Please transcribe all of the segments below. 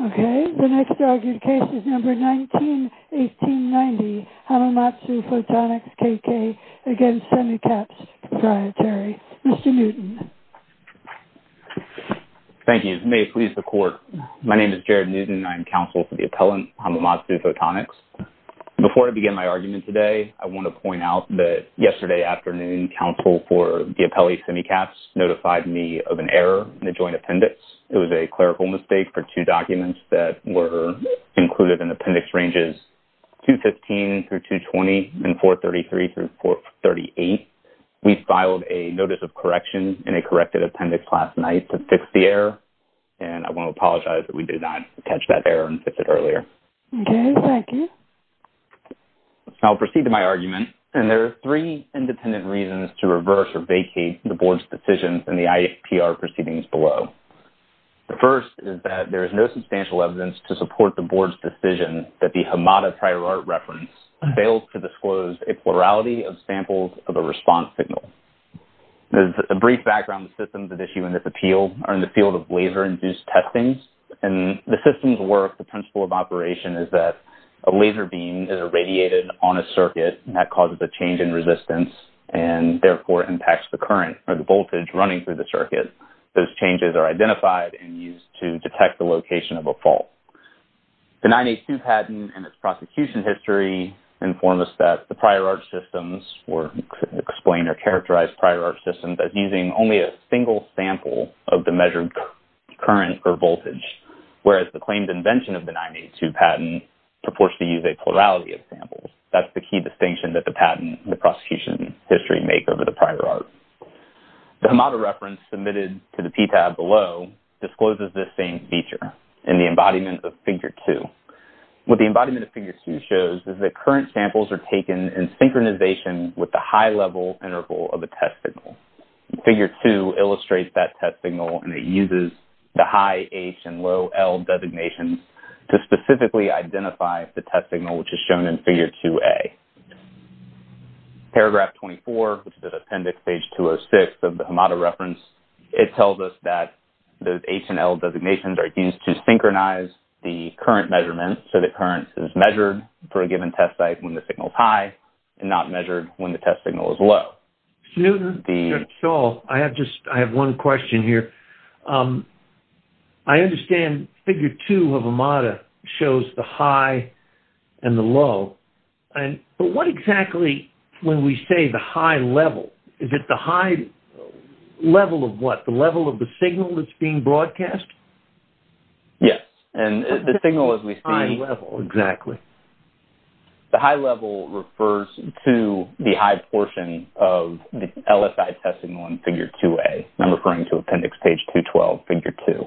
Okay, the next argued case is number 19-1890, Hamamatsu Photonics K.K. v. SEMICAPS Pte Ltd. Mr. Newton. Thank you. May it please the Court. My name is Jared Newton, and I am counsel for the appellant, Hamamatsu Photonics. Before I begin my argument today, I want to point out that yesterday afternoon, counsel for the appellee, SEMICAPS, notified me of an error in the joint appendix. It was a clerical mistake for two documents that were included in appendix ranges 215-220 and 433-438. We filed a notice of correction in a corrected appendix last night to fix the error, and I want to apologize that we did not catch that error and fix it earlier. Okay, thank you. I'll proceed to my argument, and there are three independent reasons to reverse or vacate the Board's decisions in the IAPR proceedings below. The first is that there is no substantial evidence to support the Board's decision that the Hamada-Priorart reference failed to disclose a plurality of samples of a response signal. As a brief background, the systems at issue in this appeal are in the field of laser-induced testings, and the systems work, the principle of operation is that a laser beam is irradiated on a circuit and that causes a change in resistance and, therefore, impacts the current or the voltage running through the circuit. Those changes are identified and used to detect the location of a fault. The 982 patent and its prosecution history inform us that the Priorart systems or explain or characterize Priorart systems as using only a single sample of the measured current or voltage, whereas the claimed invention of the 982 patent purports to use a plurality of samples. That's the key distinction that the patent and the prosecution history make over the Priorart. The Hamada reference submitted to the PTAB below discloses this same feature in the embodiment of Figure 2. What the embodiment of Figure 2 shows is that current samples are taken in synchronization with the high-level interval of the test signal. Figure 2 illustrates that test signal, and it uses the high H and low L designations to specifically identify the test signal, which is shown in Figure 2A. Paragraph 24, which is appendix page 206 of the Hamada reference, it tells us that the H and L designations are used to synchronize the current measurements so that current is measured for a given test site when the signal is high and not measured when the test signal is low. Newton, Shaw, I have one question here. I understand Figure 2 of Hamada shows the high and the low, but what exactly when we say the high level, is it the high level of what? The level of the signal that's being broadcast? Yes, and the signal as we see... High level, exactly. The high level refers to the high portion of the LSI testing on Figure 2A. I'm referring to appendix page 212, Figure 2.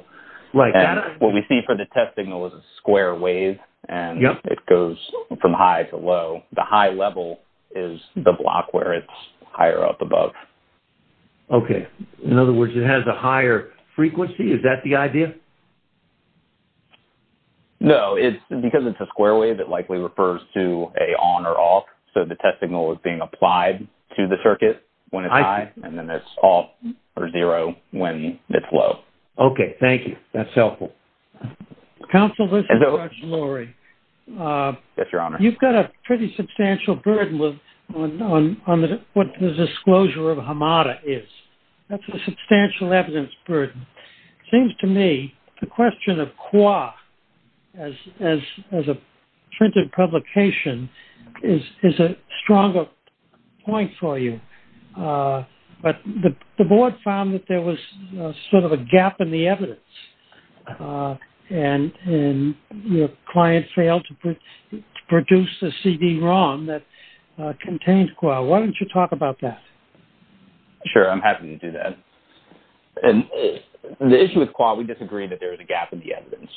And what we see for the test signal is a square wave, and it goes from high to low. The high level is the block where it's higher up above. Okay. In other words, it has a higher frequency? Is that the idea? No, because it's a square wave, it likely refers to a on or off, so the test signal is being applied to the circuit when it's high, and then it's off or zero when it's low. Okay, thank you. That's helpful. Counsel, this is George Lurie. Yes, Your Honor. You've got a pretty substantial burden on what the disclosure of Hamada is. That's a substantial evidence burden. It seems to me the question of qua, as a printed publication, is a stronger point for you. But the board found that there was sort of a gap in the evidence, and your client failed to produce a CD ROM that contained qua. Why don't you talk about that? Sure, I'm happy to do that. The issue with qua, we disagree that there is a gap in the evidence.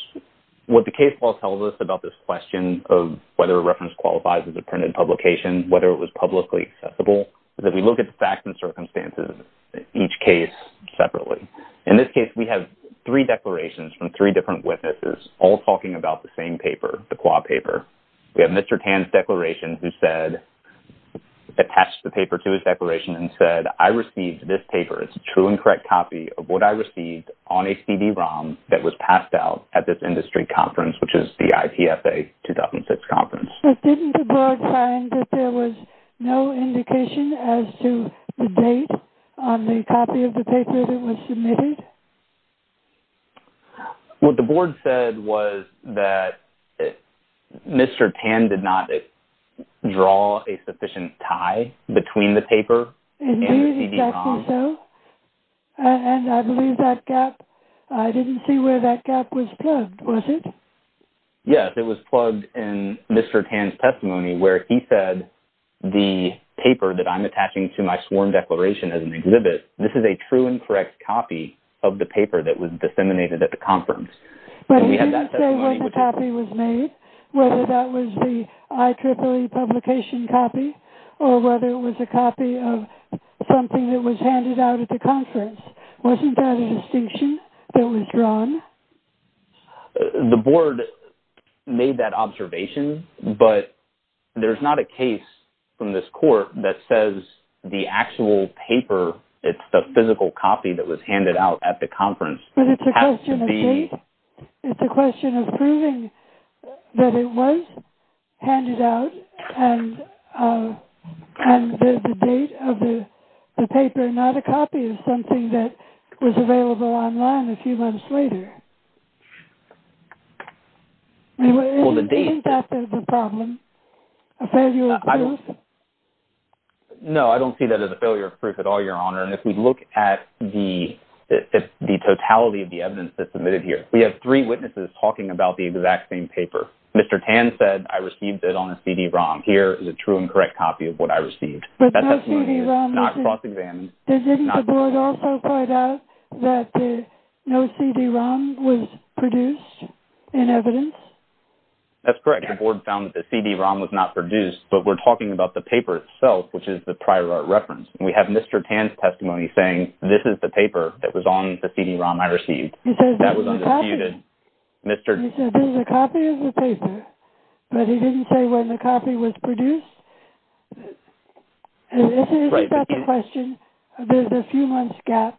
What the case law tells us about this question of whether a reference qualifies as a printed publication, whether it was publicly accessible, is that we look at the facts and circumstances of each case separately. In this case, we have three declarations from three different witnesses, all talking about the same paper, the qua paper. We have Mr. Tan's declaration who said, attached the paper to his declaration and said, I received this paper. It's a true and correct copy of what I received on a CD ROM that was passed out at this industry conference, which is the IPFA 2006 conference. But didn't the board find that there was no indication as to the date on the copy of the paper that was submitted? What the board said was that Mr. Tan did not draw a sufficient tie between the paper and the CD ROM. Indeed, exactly so. And I believe that gap, I didn't see where that gap was plugged, was it? Yes, it was plugged in Mr. Tan's testimony where he said, the paper that I'm attaching to my sworn declaration as an exhibit, this is a true and correct copy of the paper that was disseminated at the conference. But he didn't say when the copy was made, whether that was the IEEE publication copy or whether it was a copy of something that was handed out at the conference. Wasn't that a distinction that was drawn? The board made that observation, but there's not a case from this court that says the actual paper, it's the physical copy that was handed out at the conference. But it's a question of date. It's a question of proving that it was handed out and the date of the paper, not a copy of something that was available online a few months later. Isn't that the problem? A failure of proof? No, I don't see that as a failure of proof at all, Your Honor. And if we look at the totality of the evidence that's submitted here, we have three witnesses talking about the exact same paper. Mr. Tan said, I received it on a CD-ROM. Here is a true and correct copy of what I received. But no CD-ROM. That testimony is not cross-examined. Didn't the board also point out that no CD-ROM was produced in evidence? That's correct. The board found that the CD-ROM was not produced, but we're talking about the paper itself, which is the prior art reference. And we have Mr. Tan's testimony saying, this is the paper that was on the CD-ROM I received. That was undisputed. He said, this is a copy of the paper, but he didn't say when the copy was produced. Isn't that the question? There's a few months gap.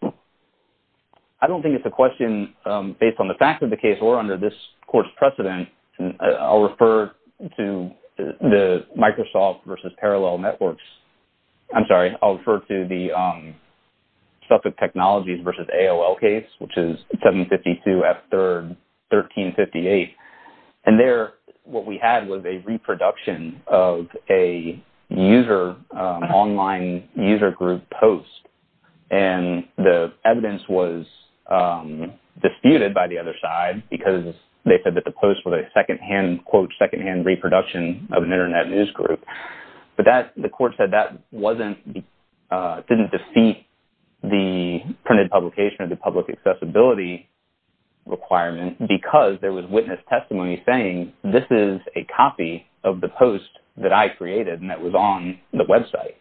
I don't think it's a question based on the fact of the case or under this court's precedent. I'll refer to the Microsoft v. Parallel Networks. I'm sorry, I'll refer to the Suffolk Technologies v. AOL case, which is 752 F. 3rd, 1358. And there, what we had was a reproduction of a user, online user group post. And the evidence was disputed by the other side because they said that the post was a second-hand, quote, second-hand reproduction of an internet news group. But the court said that didn't defeat the printed publication of the public accessibility requirement because there was witness testimony saying, this is a copy of the post that I created and that was on the website.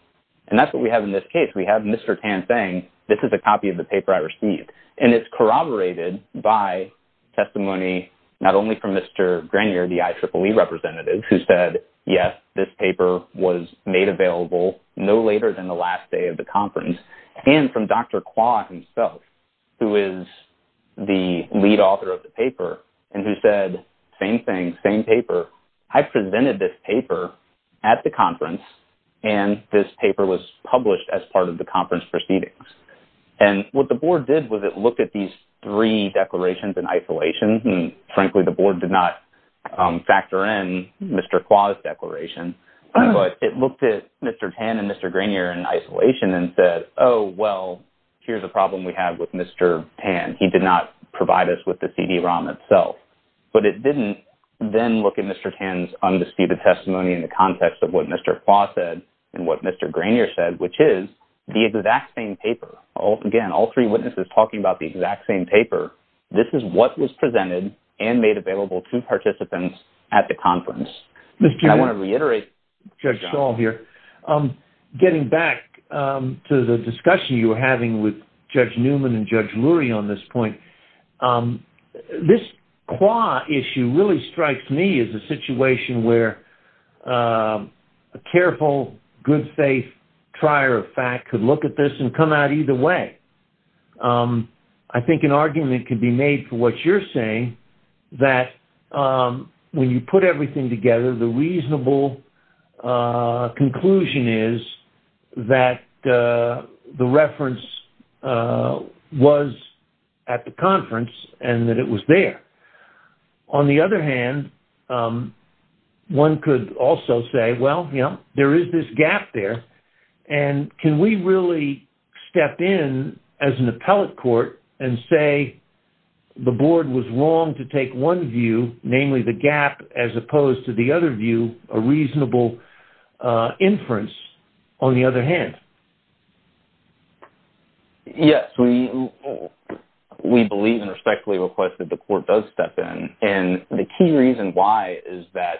And that's what we have in this case. We have Mr. Tan saying, this is a copy of the paper I received. And it's corroborated by testimony, not only from Mr. Grenier, the IEEE representative, who said, yes, this paper was made available no later than the last day of the conference, and from Dr. Kwa himself, who is the lead author of the paper, and who said, same thing, same paper. I presented this paper at the conference and this paper was published as part of the conference proceedings. And what the board did was it looked at these three declarations in isolation. And frankly, the board did not factor in Mr. Kwa's declaration, but it looked at Mr. Tan and Mr. Grenier in isolation and said, oh, well, here's a problem we have with Mr. Tan. He did not provide us with the CD-ROM itself. But it didn't then look at Mr. Tan's undisputed testimony in the context of what Mr. Kwa said and what Mr. Grenier said, which is the exact same paper. Again, all three witnesses talking about the exact same paper. and made available to participants at the conference. I want to reiterate Judge Shaw here. Getting back to the discussion you were having with Judge Newman and Judge Lurie on this point, this Kwa issue really strikes me as a situation where a careful, good-faith trier of fact could look at this and come out either way. I think an argument could be made for what you're saying, that when you put everything together, the reasonable conclusion is that the reference was at the conference and that it was there. On the other hand, one could also say, well, you know, there is this gap there, and can we really step in as an appellate court and say the board was wrong to take one view, namely the gap, as opposed to the other view, a reasonable inference, on the other hand? Yes, we believe and respectfully request that the court does step in, and the key reason why is that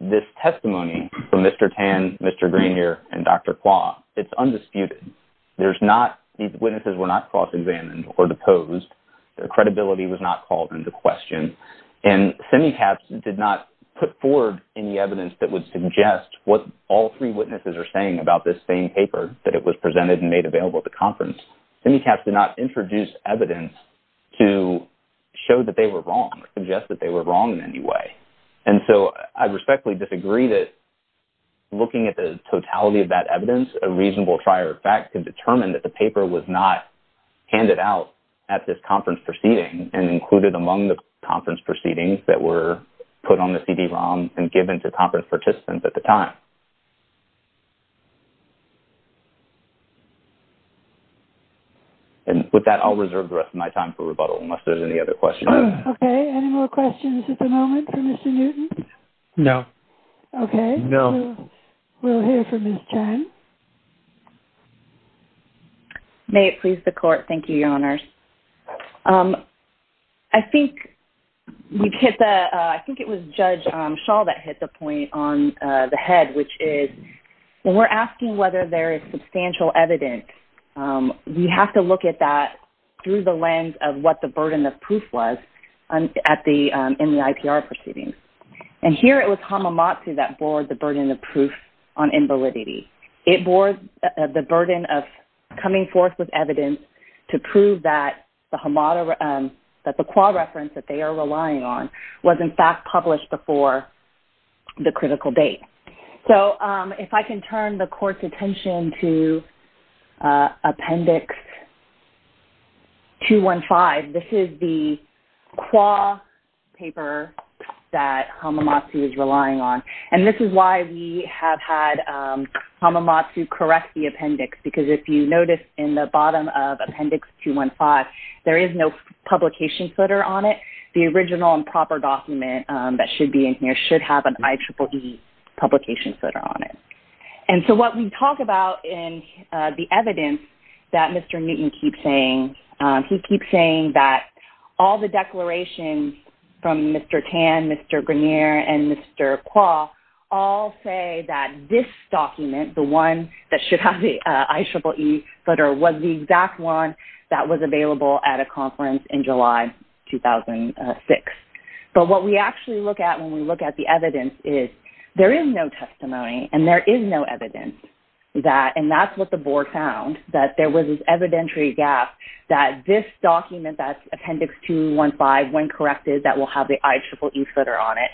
this testimony from Mr. Tan, Mr. Grenier, and Dr. Kwa, it's undisputed. These witnesses were not cross-examined or deposed. Their credibility was not called into question, and SEMICAPS did not put forward any evidence that would suggest what all three witnesses are saying about this same paper that it was presented and made available at the conference. SEMICAPS did not introduce evidence to show that they were wrong or suggest that they were wrong in any way, and so I respectfully disagree that looking at the totality of that evidence, a reasonable trier of fact can determine that the paper was not handed out at this conference proceeding and included among the conference proceedings that were put on the CD-ROM and given to conference participants at the time. And with that, I'll reserve the rest of my time for rebuttal, unless there's any other questions. Okay, any more questions at the moment for Mr. Newton? No. Okay. No. We'll hear from Ms. Chan. May it please the Court. Thank you, Your Honors. I think we've hit the... I think it was Judge Schall that hit the point on the head, which is when we're asking whether there is substantial evidence, we have to look at that through the lens of what the burden of proof was in the IPR proceedings. And here it was Hamamatsu that bore the burden of proof on invalidity. It bore the burden of coming forth with evidence to prove that the qua reference that they are relying on was in fact published before the critical date. So if I can turn the Court's attention to Appendix 215, this is the qua paper that Hamamatsu is relying on. And this is why we have had Hamamatsu correct the appendix, because if you notice in the bottom of Appendix 215, there is no publication footer on it. The original and proper document that should be in here should have an IEEE publication footer on it. And so what we talk about in the evidence that Mr. Newton keeps saying, he keeps saying that all the declarations from Mr. Tan, Mr. Grenier, and Mr. Qua all say that this document, the one that should have the IEEE footer, was the exact one that was available at a conference in July 2006. But what we actually look at when we look at the evidence is there is no testimony and there is no evidence that, and that's what the board found, that there was this evidentiary gap that this document, that's Appendix 215, when corrected, that will have the IEEE footer on it.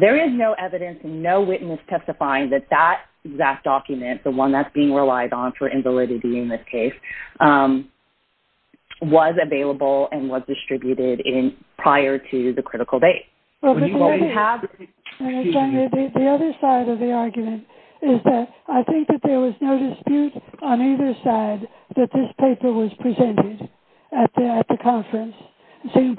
There is no evidence and no witness testifying that that exact document, the one that's being relied on for invalidity in this case, was available and was distributed prior to the critical date. The other side of the argument is that I think that there was no dispute on either side that this paper was presented at the conference. So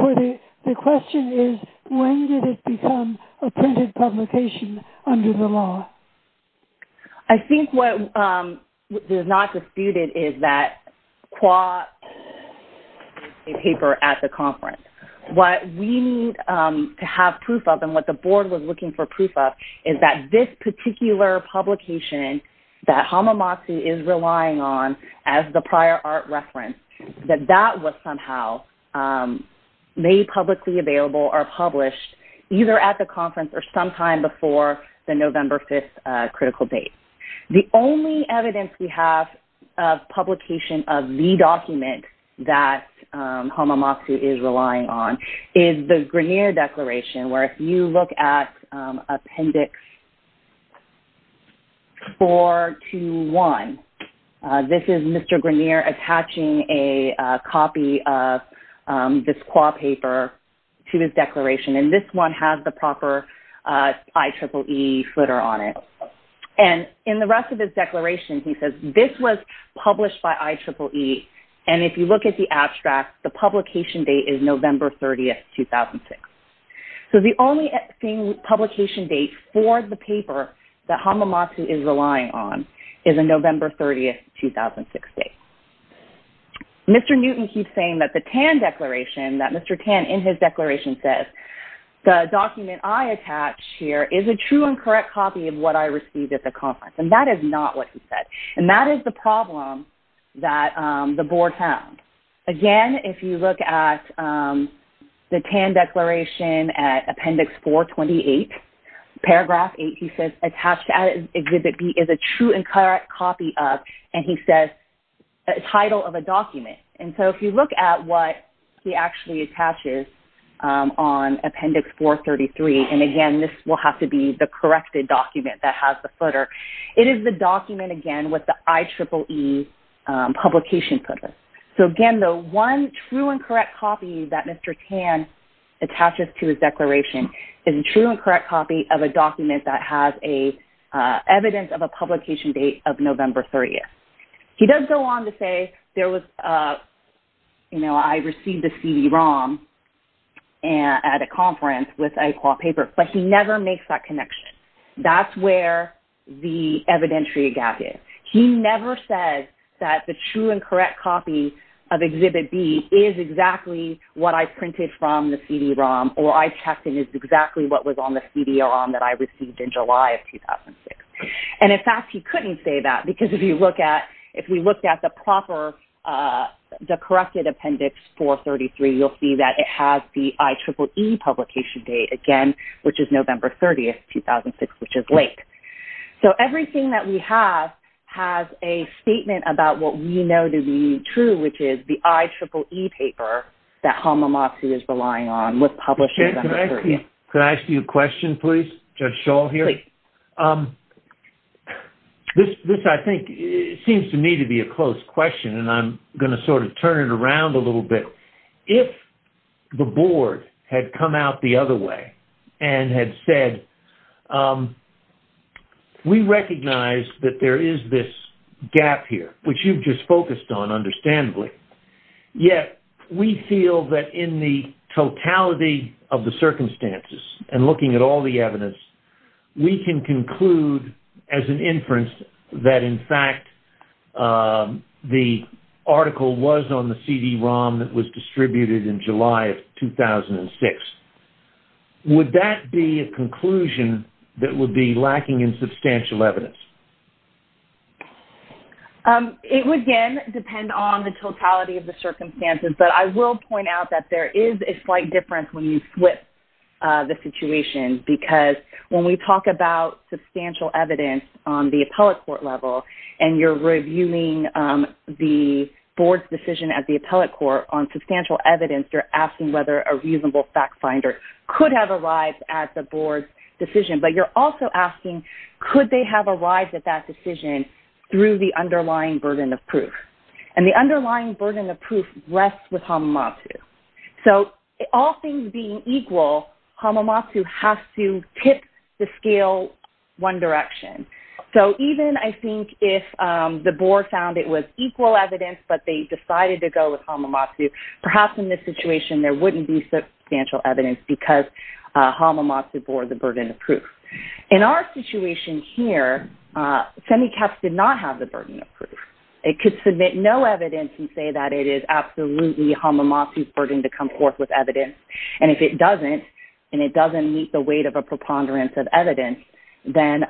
the question is, when did it become a printed publication under the law? I think what is not disputed is that Qua did a paper at the conference. What we need to have proof of and what the board was looking for proof of is that this particular publication that Hamamatsu is relying on as the prior art reference, that that was somehow made publicly available or published either at the conference or sometime before the November 5th critical date. The only evidence we have of publication of the document that Hamamatsu is relying on is the Grenier Declaration, where if you look at Appendix 421, this is Mr. Grenier attaching a copy of this Qua paper to his declaration, and this one has the proper IEEE footer on it. And in the rest of his declaration, he says this was published by IEEE, and if you look at the abstract, the publication date is November 30th, 2006. So the only publication date for the paper that Hamamatsu is relying on is a November 30th, 2006 date. Mr. Newton keeps saying that the Tan Declaration, that Mr. Tan in his declaration says, the document I attach here is a true and correct copy of what I received at the conference, and that is not what he said. And that is the problem that the board found. Again, if you look at the Tan Declaration at Appendix 428, Paragraph 8, he says attached at Exhibit B is a true and correct copy of, and he says title of a document. And so if you look at what he actually attaches on Appendix 433, and again this will have to be the corrected document that has the footer, it is the document, again, with the IEEE publication footer. So again, the one true and correct copy that Mr. Tan attaches to his declaration is a true and correct copy of a document that has evidence of a publication date of November 30th. He does go on to say there was, you know, I received a CD-ROM at a conference with ICWA paper, but he never makes that connection. That's where the evidentiary gap is. He never says that the true and correct copy of Exhibit B is exactly what I printed from the CD-ROM, or I checked and it's exactly what was on the CD-ROM that I received in July of 2006. And in fact, he couldn't say that, because if you look at, if we looked at the proper, the corrected Appendix 433, you'll see that it has the IEEE publication date, again, which is November 30th, 2006, which is late. So everything that we have has a statement about what we know to be true, which is the IEEE paper that Hamamatsu is relying on with publishing the history. Can I ask you a question, please? Judge Schall here. This, I think, seems to me to be a close question, and I'm going to sort of turn it around a little bit. If the board had come out the other way and had said, we recognize that there is this gap here, which you've just focused on understandably, yet we feel that in the totality of the circumstances and looking at all the evidence, we can conclude as an inference that in fact the article was on the CD-ROM that was distributed in July of 2006. Would that be a conclusion that would be lacking in substantial evidence? It would, again, depend on the totality of the circumstances, but I will point out that there is a slight difference when you flip the situation because when we talk about substantial evidence on the appellate court level and you're reviewing the board's decision at the appellate court on substantial evidence, you're asking whether a reasonable fact finder could have arrived at the board's decision, but you're also asking, could they have arrived at that decision through the underlying burden of proof? And the underlying burden of proof rests with Hamamatsu. So all things being equal, Hamamatsu has to tip the scale one direction. So even, I think, if the board found it was equal evidence, but they decided to go with Hamamatsu, perhaps in this situation there wouldn't be substantial evidence because Hamamatsu bore the burden of proof. In our situation here, SEMICAPS did not have the burden of proof. It could submit no evidence and say that it is absolutely Hamamatsu's burden to come forth with evidence, and if it doesn't, and it doesn't meet the weight of a preponderance of evidence, then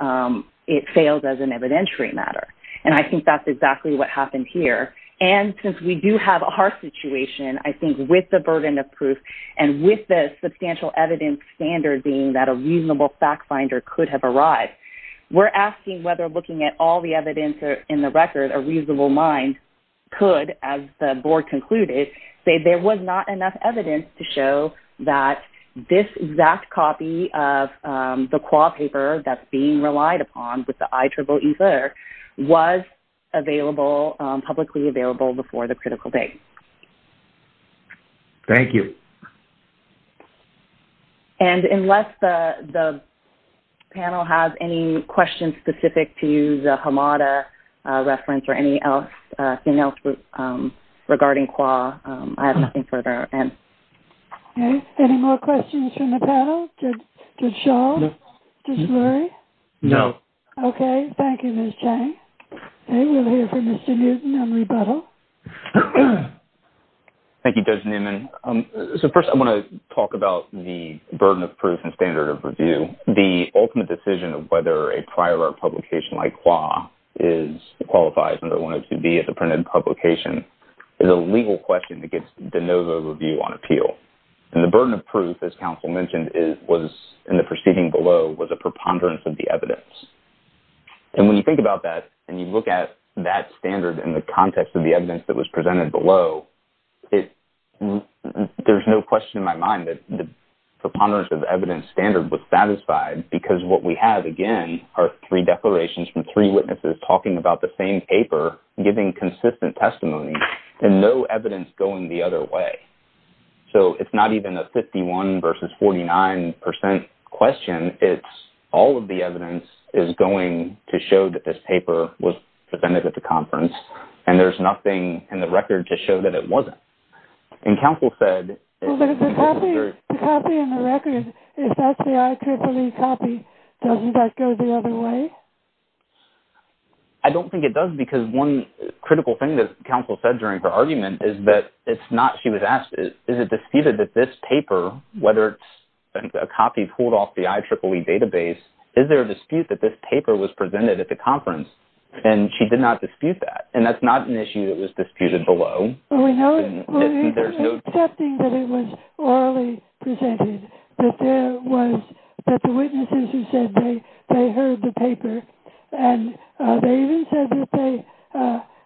it fails as an evidentiary matter. And I think that's exactly what happened here. And since we do have our situation, I think with the burden of proof and with the substantial evidence standard being that a reasonable fact finder could have arrived, we're asking whether looking at all the evidence in the record, a reasonable mind could, as the board concluded, say there was not enough evidence to show that this exact copy of the QAW paper that's being relied upon with the IEEE letter was publicly available before the critical date. Thank you. And unless the panel has any questions specific to the Hamamatsu reference or anything else regarding QAW, I have nothing further to add. Okay. Any more questions from the panel? Did Shaw? No. Did Lurie? No. Okay. Thank you, Ms. Chang. And we'll hear from Mr. Newton on rebuttal. Thank you, Judge Newman. So first I want to talk about the burden of proof and standard of review. The ultimate decision of whether a prior art publication like QAW qualifies under 102B as a printed publication is a legal question that gets de novo review on appeal. And the burden of proof, as counsel mentioned, in the proceeding below was a preponderance of the evidence. And when you think about that and you look at that standard in the context of the evidence that was presented below, there's no question in my mind that the preponderance of evidence standard was satisfied because what we have, again, are three declarations from three witnesses talking about the same paper giving consistent testimony and no evidence going the other way. So it's not even a 51% versus 49% question. It's all of the evidence is going to show that this paper was presented at the conference and there's nothing in the record to show that it wasn't. And counsel said... Well, there's a copy in the record. If that's the IEEE copy, doesn't that go the other way? I don't think it does because one critical thing that counsel said during her argument is that it's not... She was asked, is it disputed that this paper, whether it's a copy pulled off the IEEE database, is there a dispute that this paper was presented at the conference? And she did not dispute that. And that's not an issue that was disputed below. We're accepting that it was orally presented, that there was... that the witnesses who said they heard the paper and they even said that they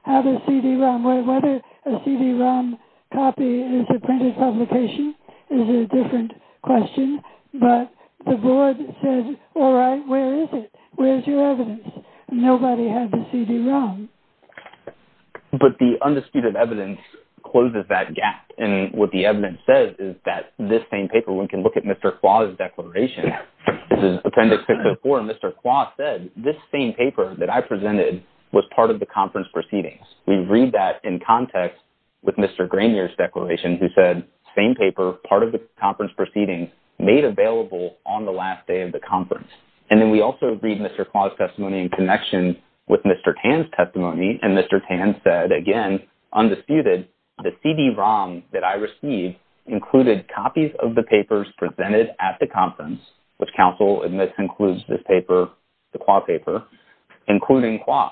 have a CD-ROM. Whether a CD-ROM copy is a printed publication is a different question. But the board said, all right, where is it? Where's your evidence? Nobody had the CD-ROM. But the undisputed evidence closes that gap. And what the evidence says is that this same paper... One can look at Mr. Kwa's declaration. This is Appendix 604. Mr. Kwa said, this same paper that I presented was part of the conference proceedings. We read that in context with Mr. Grainier's declaration who said, same paper, part of the conference proceedings, made available on the last day of the conference. And then we also read Mr. Kwa's testimony in connection with Mr. Tan's testimony. And Mr. Tan said, again, undisputed, the CD-ROM that I received included copies of the papers presented at the conference, which counsel admits includes this paper, the Kwa paper, including Kwa.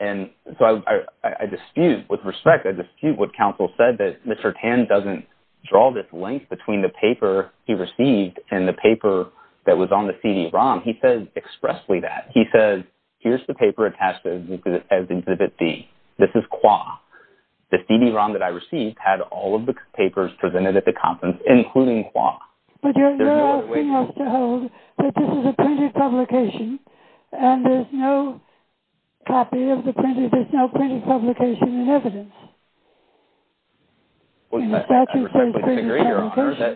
And so I dispute, with respect, I dispute what counsel said, that Mr. Tan doesn't draw this link between the paper he received and the paper that was on the CD-ROM. He says expressly that. He says, here's the paper attached as Exhibit B. This is Kwa. The CD-ROM that I received had all of the papers presented at the conference, including Kwa. But you're asking us to hold that this is a printed publication and there's no copy of the printed, there's no printed publication in evidence. I respectfully disagree, Your Honor.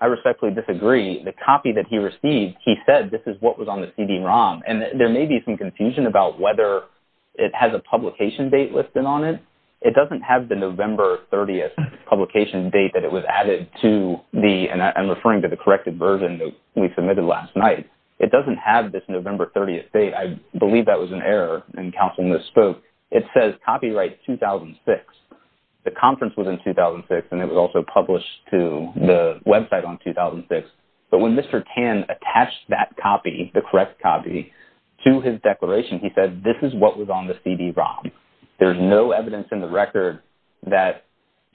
I respectfully disagree. The copy that he received, he said, this is what was on the CD-ROM. And there may be some confusion about whether it has a publication date listed on it. It doesn't have the November 30th publication date that it was added to the, and I'm referring to the corrected version that we submitted last night. It doesn't have this November 30th date. I believe that was an error and counsel misspoke. It says copyright 2006. The conference was in 2006 and it was also published to the website on 2006. But when Mr. Tan attached that copy, the correct copy, to his declaration, he said this is what was on the CD-ROM. There's no evidence in the record that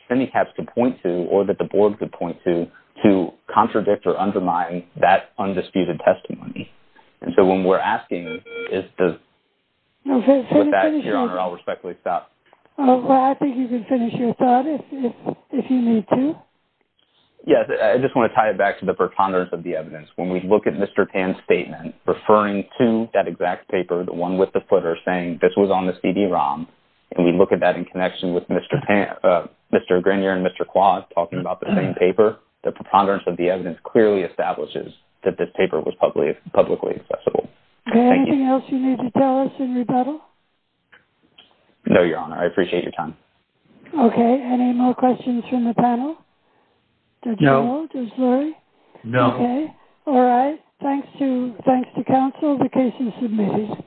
CENICAPS could point to or that the board could point to to contradict or undermine that undisputed testimony. And so when we're asking, is the... With that, Your Honor, I'll respectfully stop. Well, I think you can finish your thought if you need to. Yes, I just want to tie it back to the preponderance of the evidence. When we look at Mr. Tan's statement referring to that exact paper, the one with the footer saying this was on the CD-ROM, and we look at that in connection with Mr. Tan, Mr. Grenier and Mr. Quah talking about the same paper, the preponderance of the evidence clearly establishes that this paper was publicly accessible. Is there anything else you need to tell us in rebuttal? No, Your Honor. I appreciate your time. Okay. Any more questions from the panel? No. No? No. Okay. All right. Thanks to counsel, the case is submitted.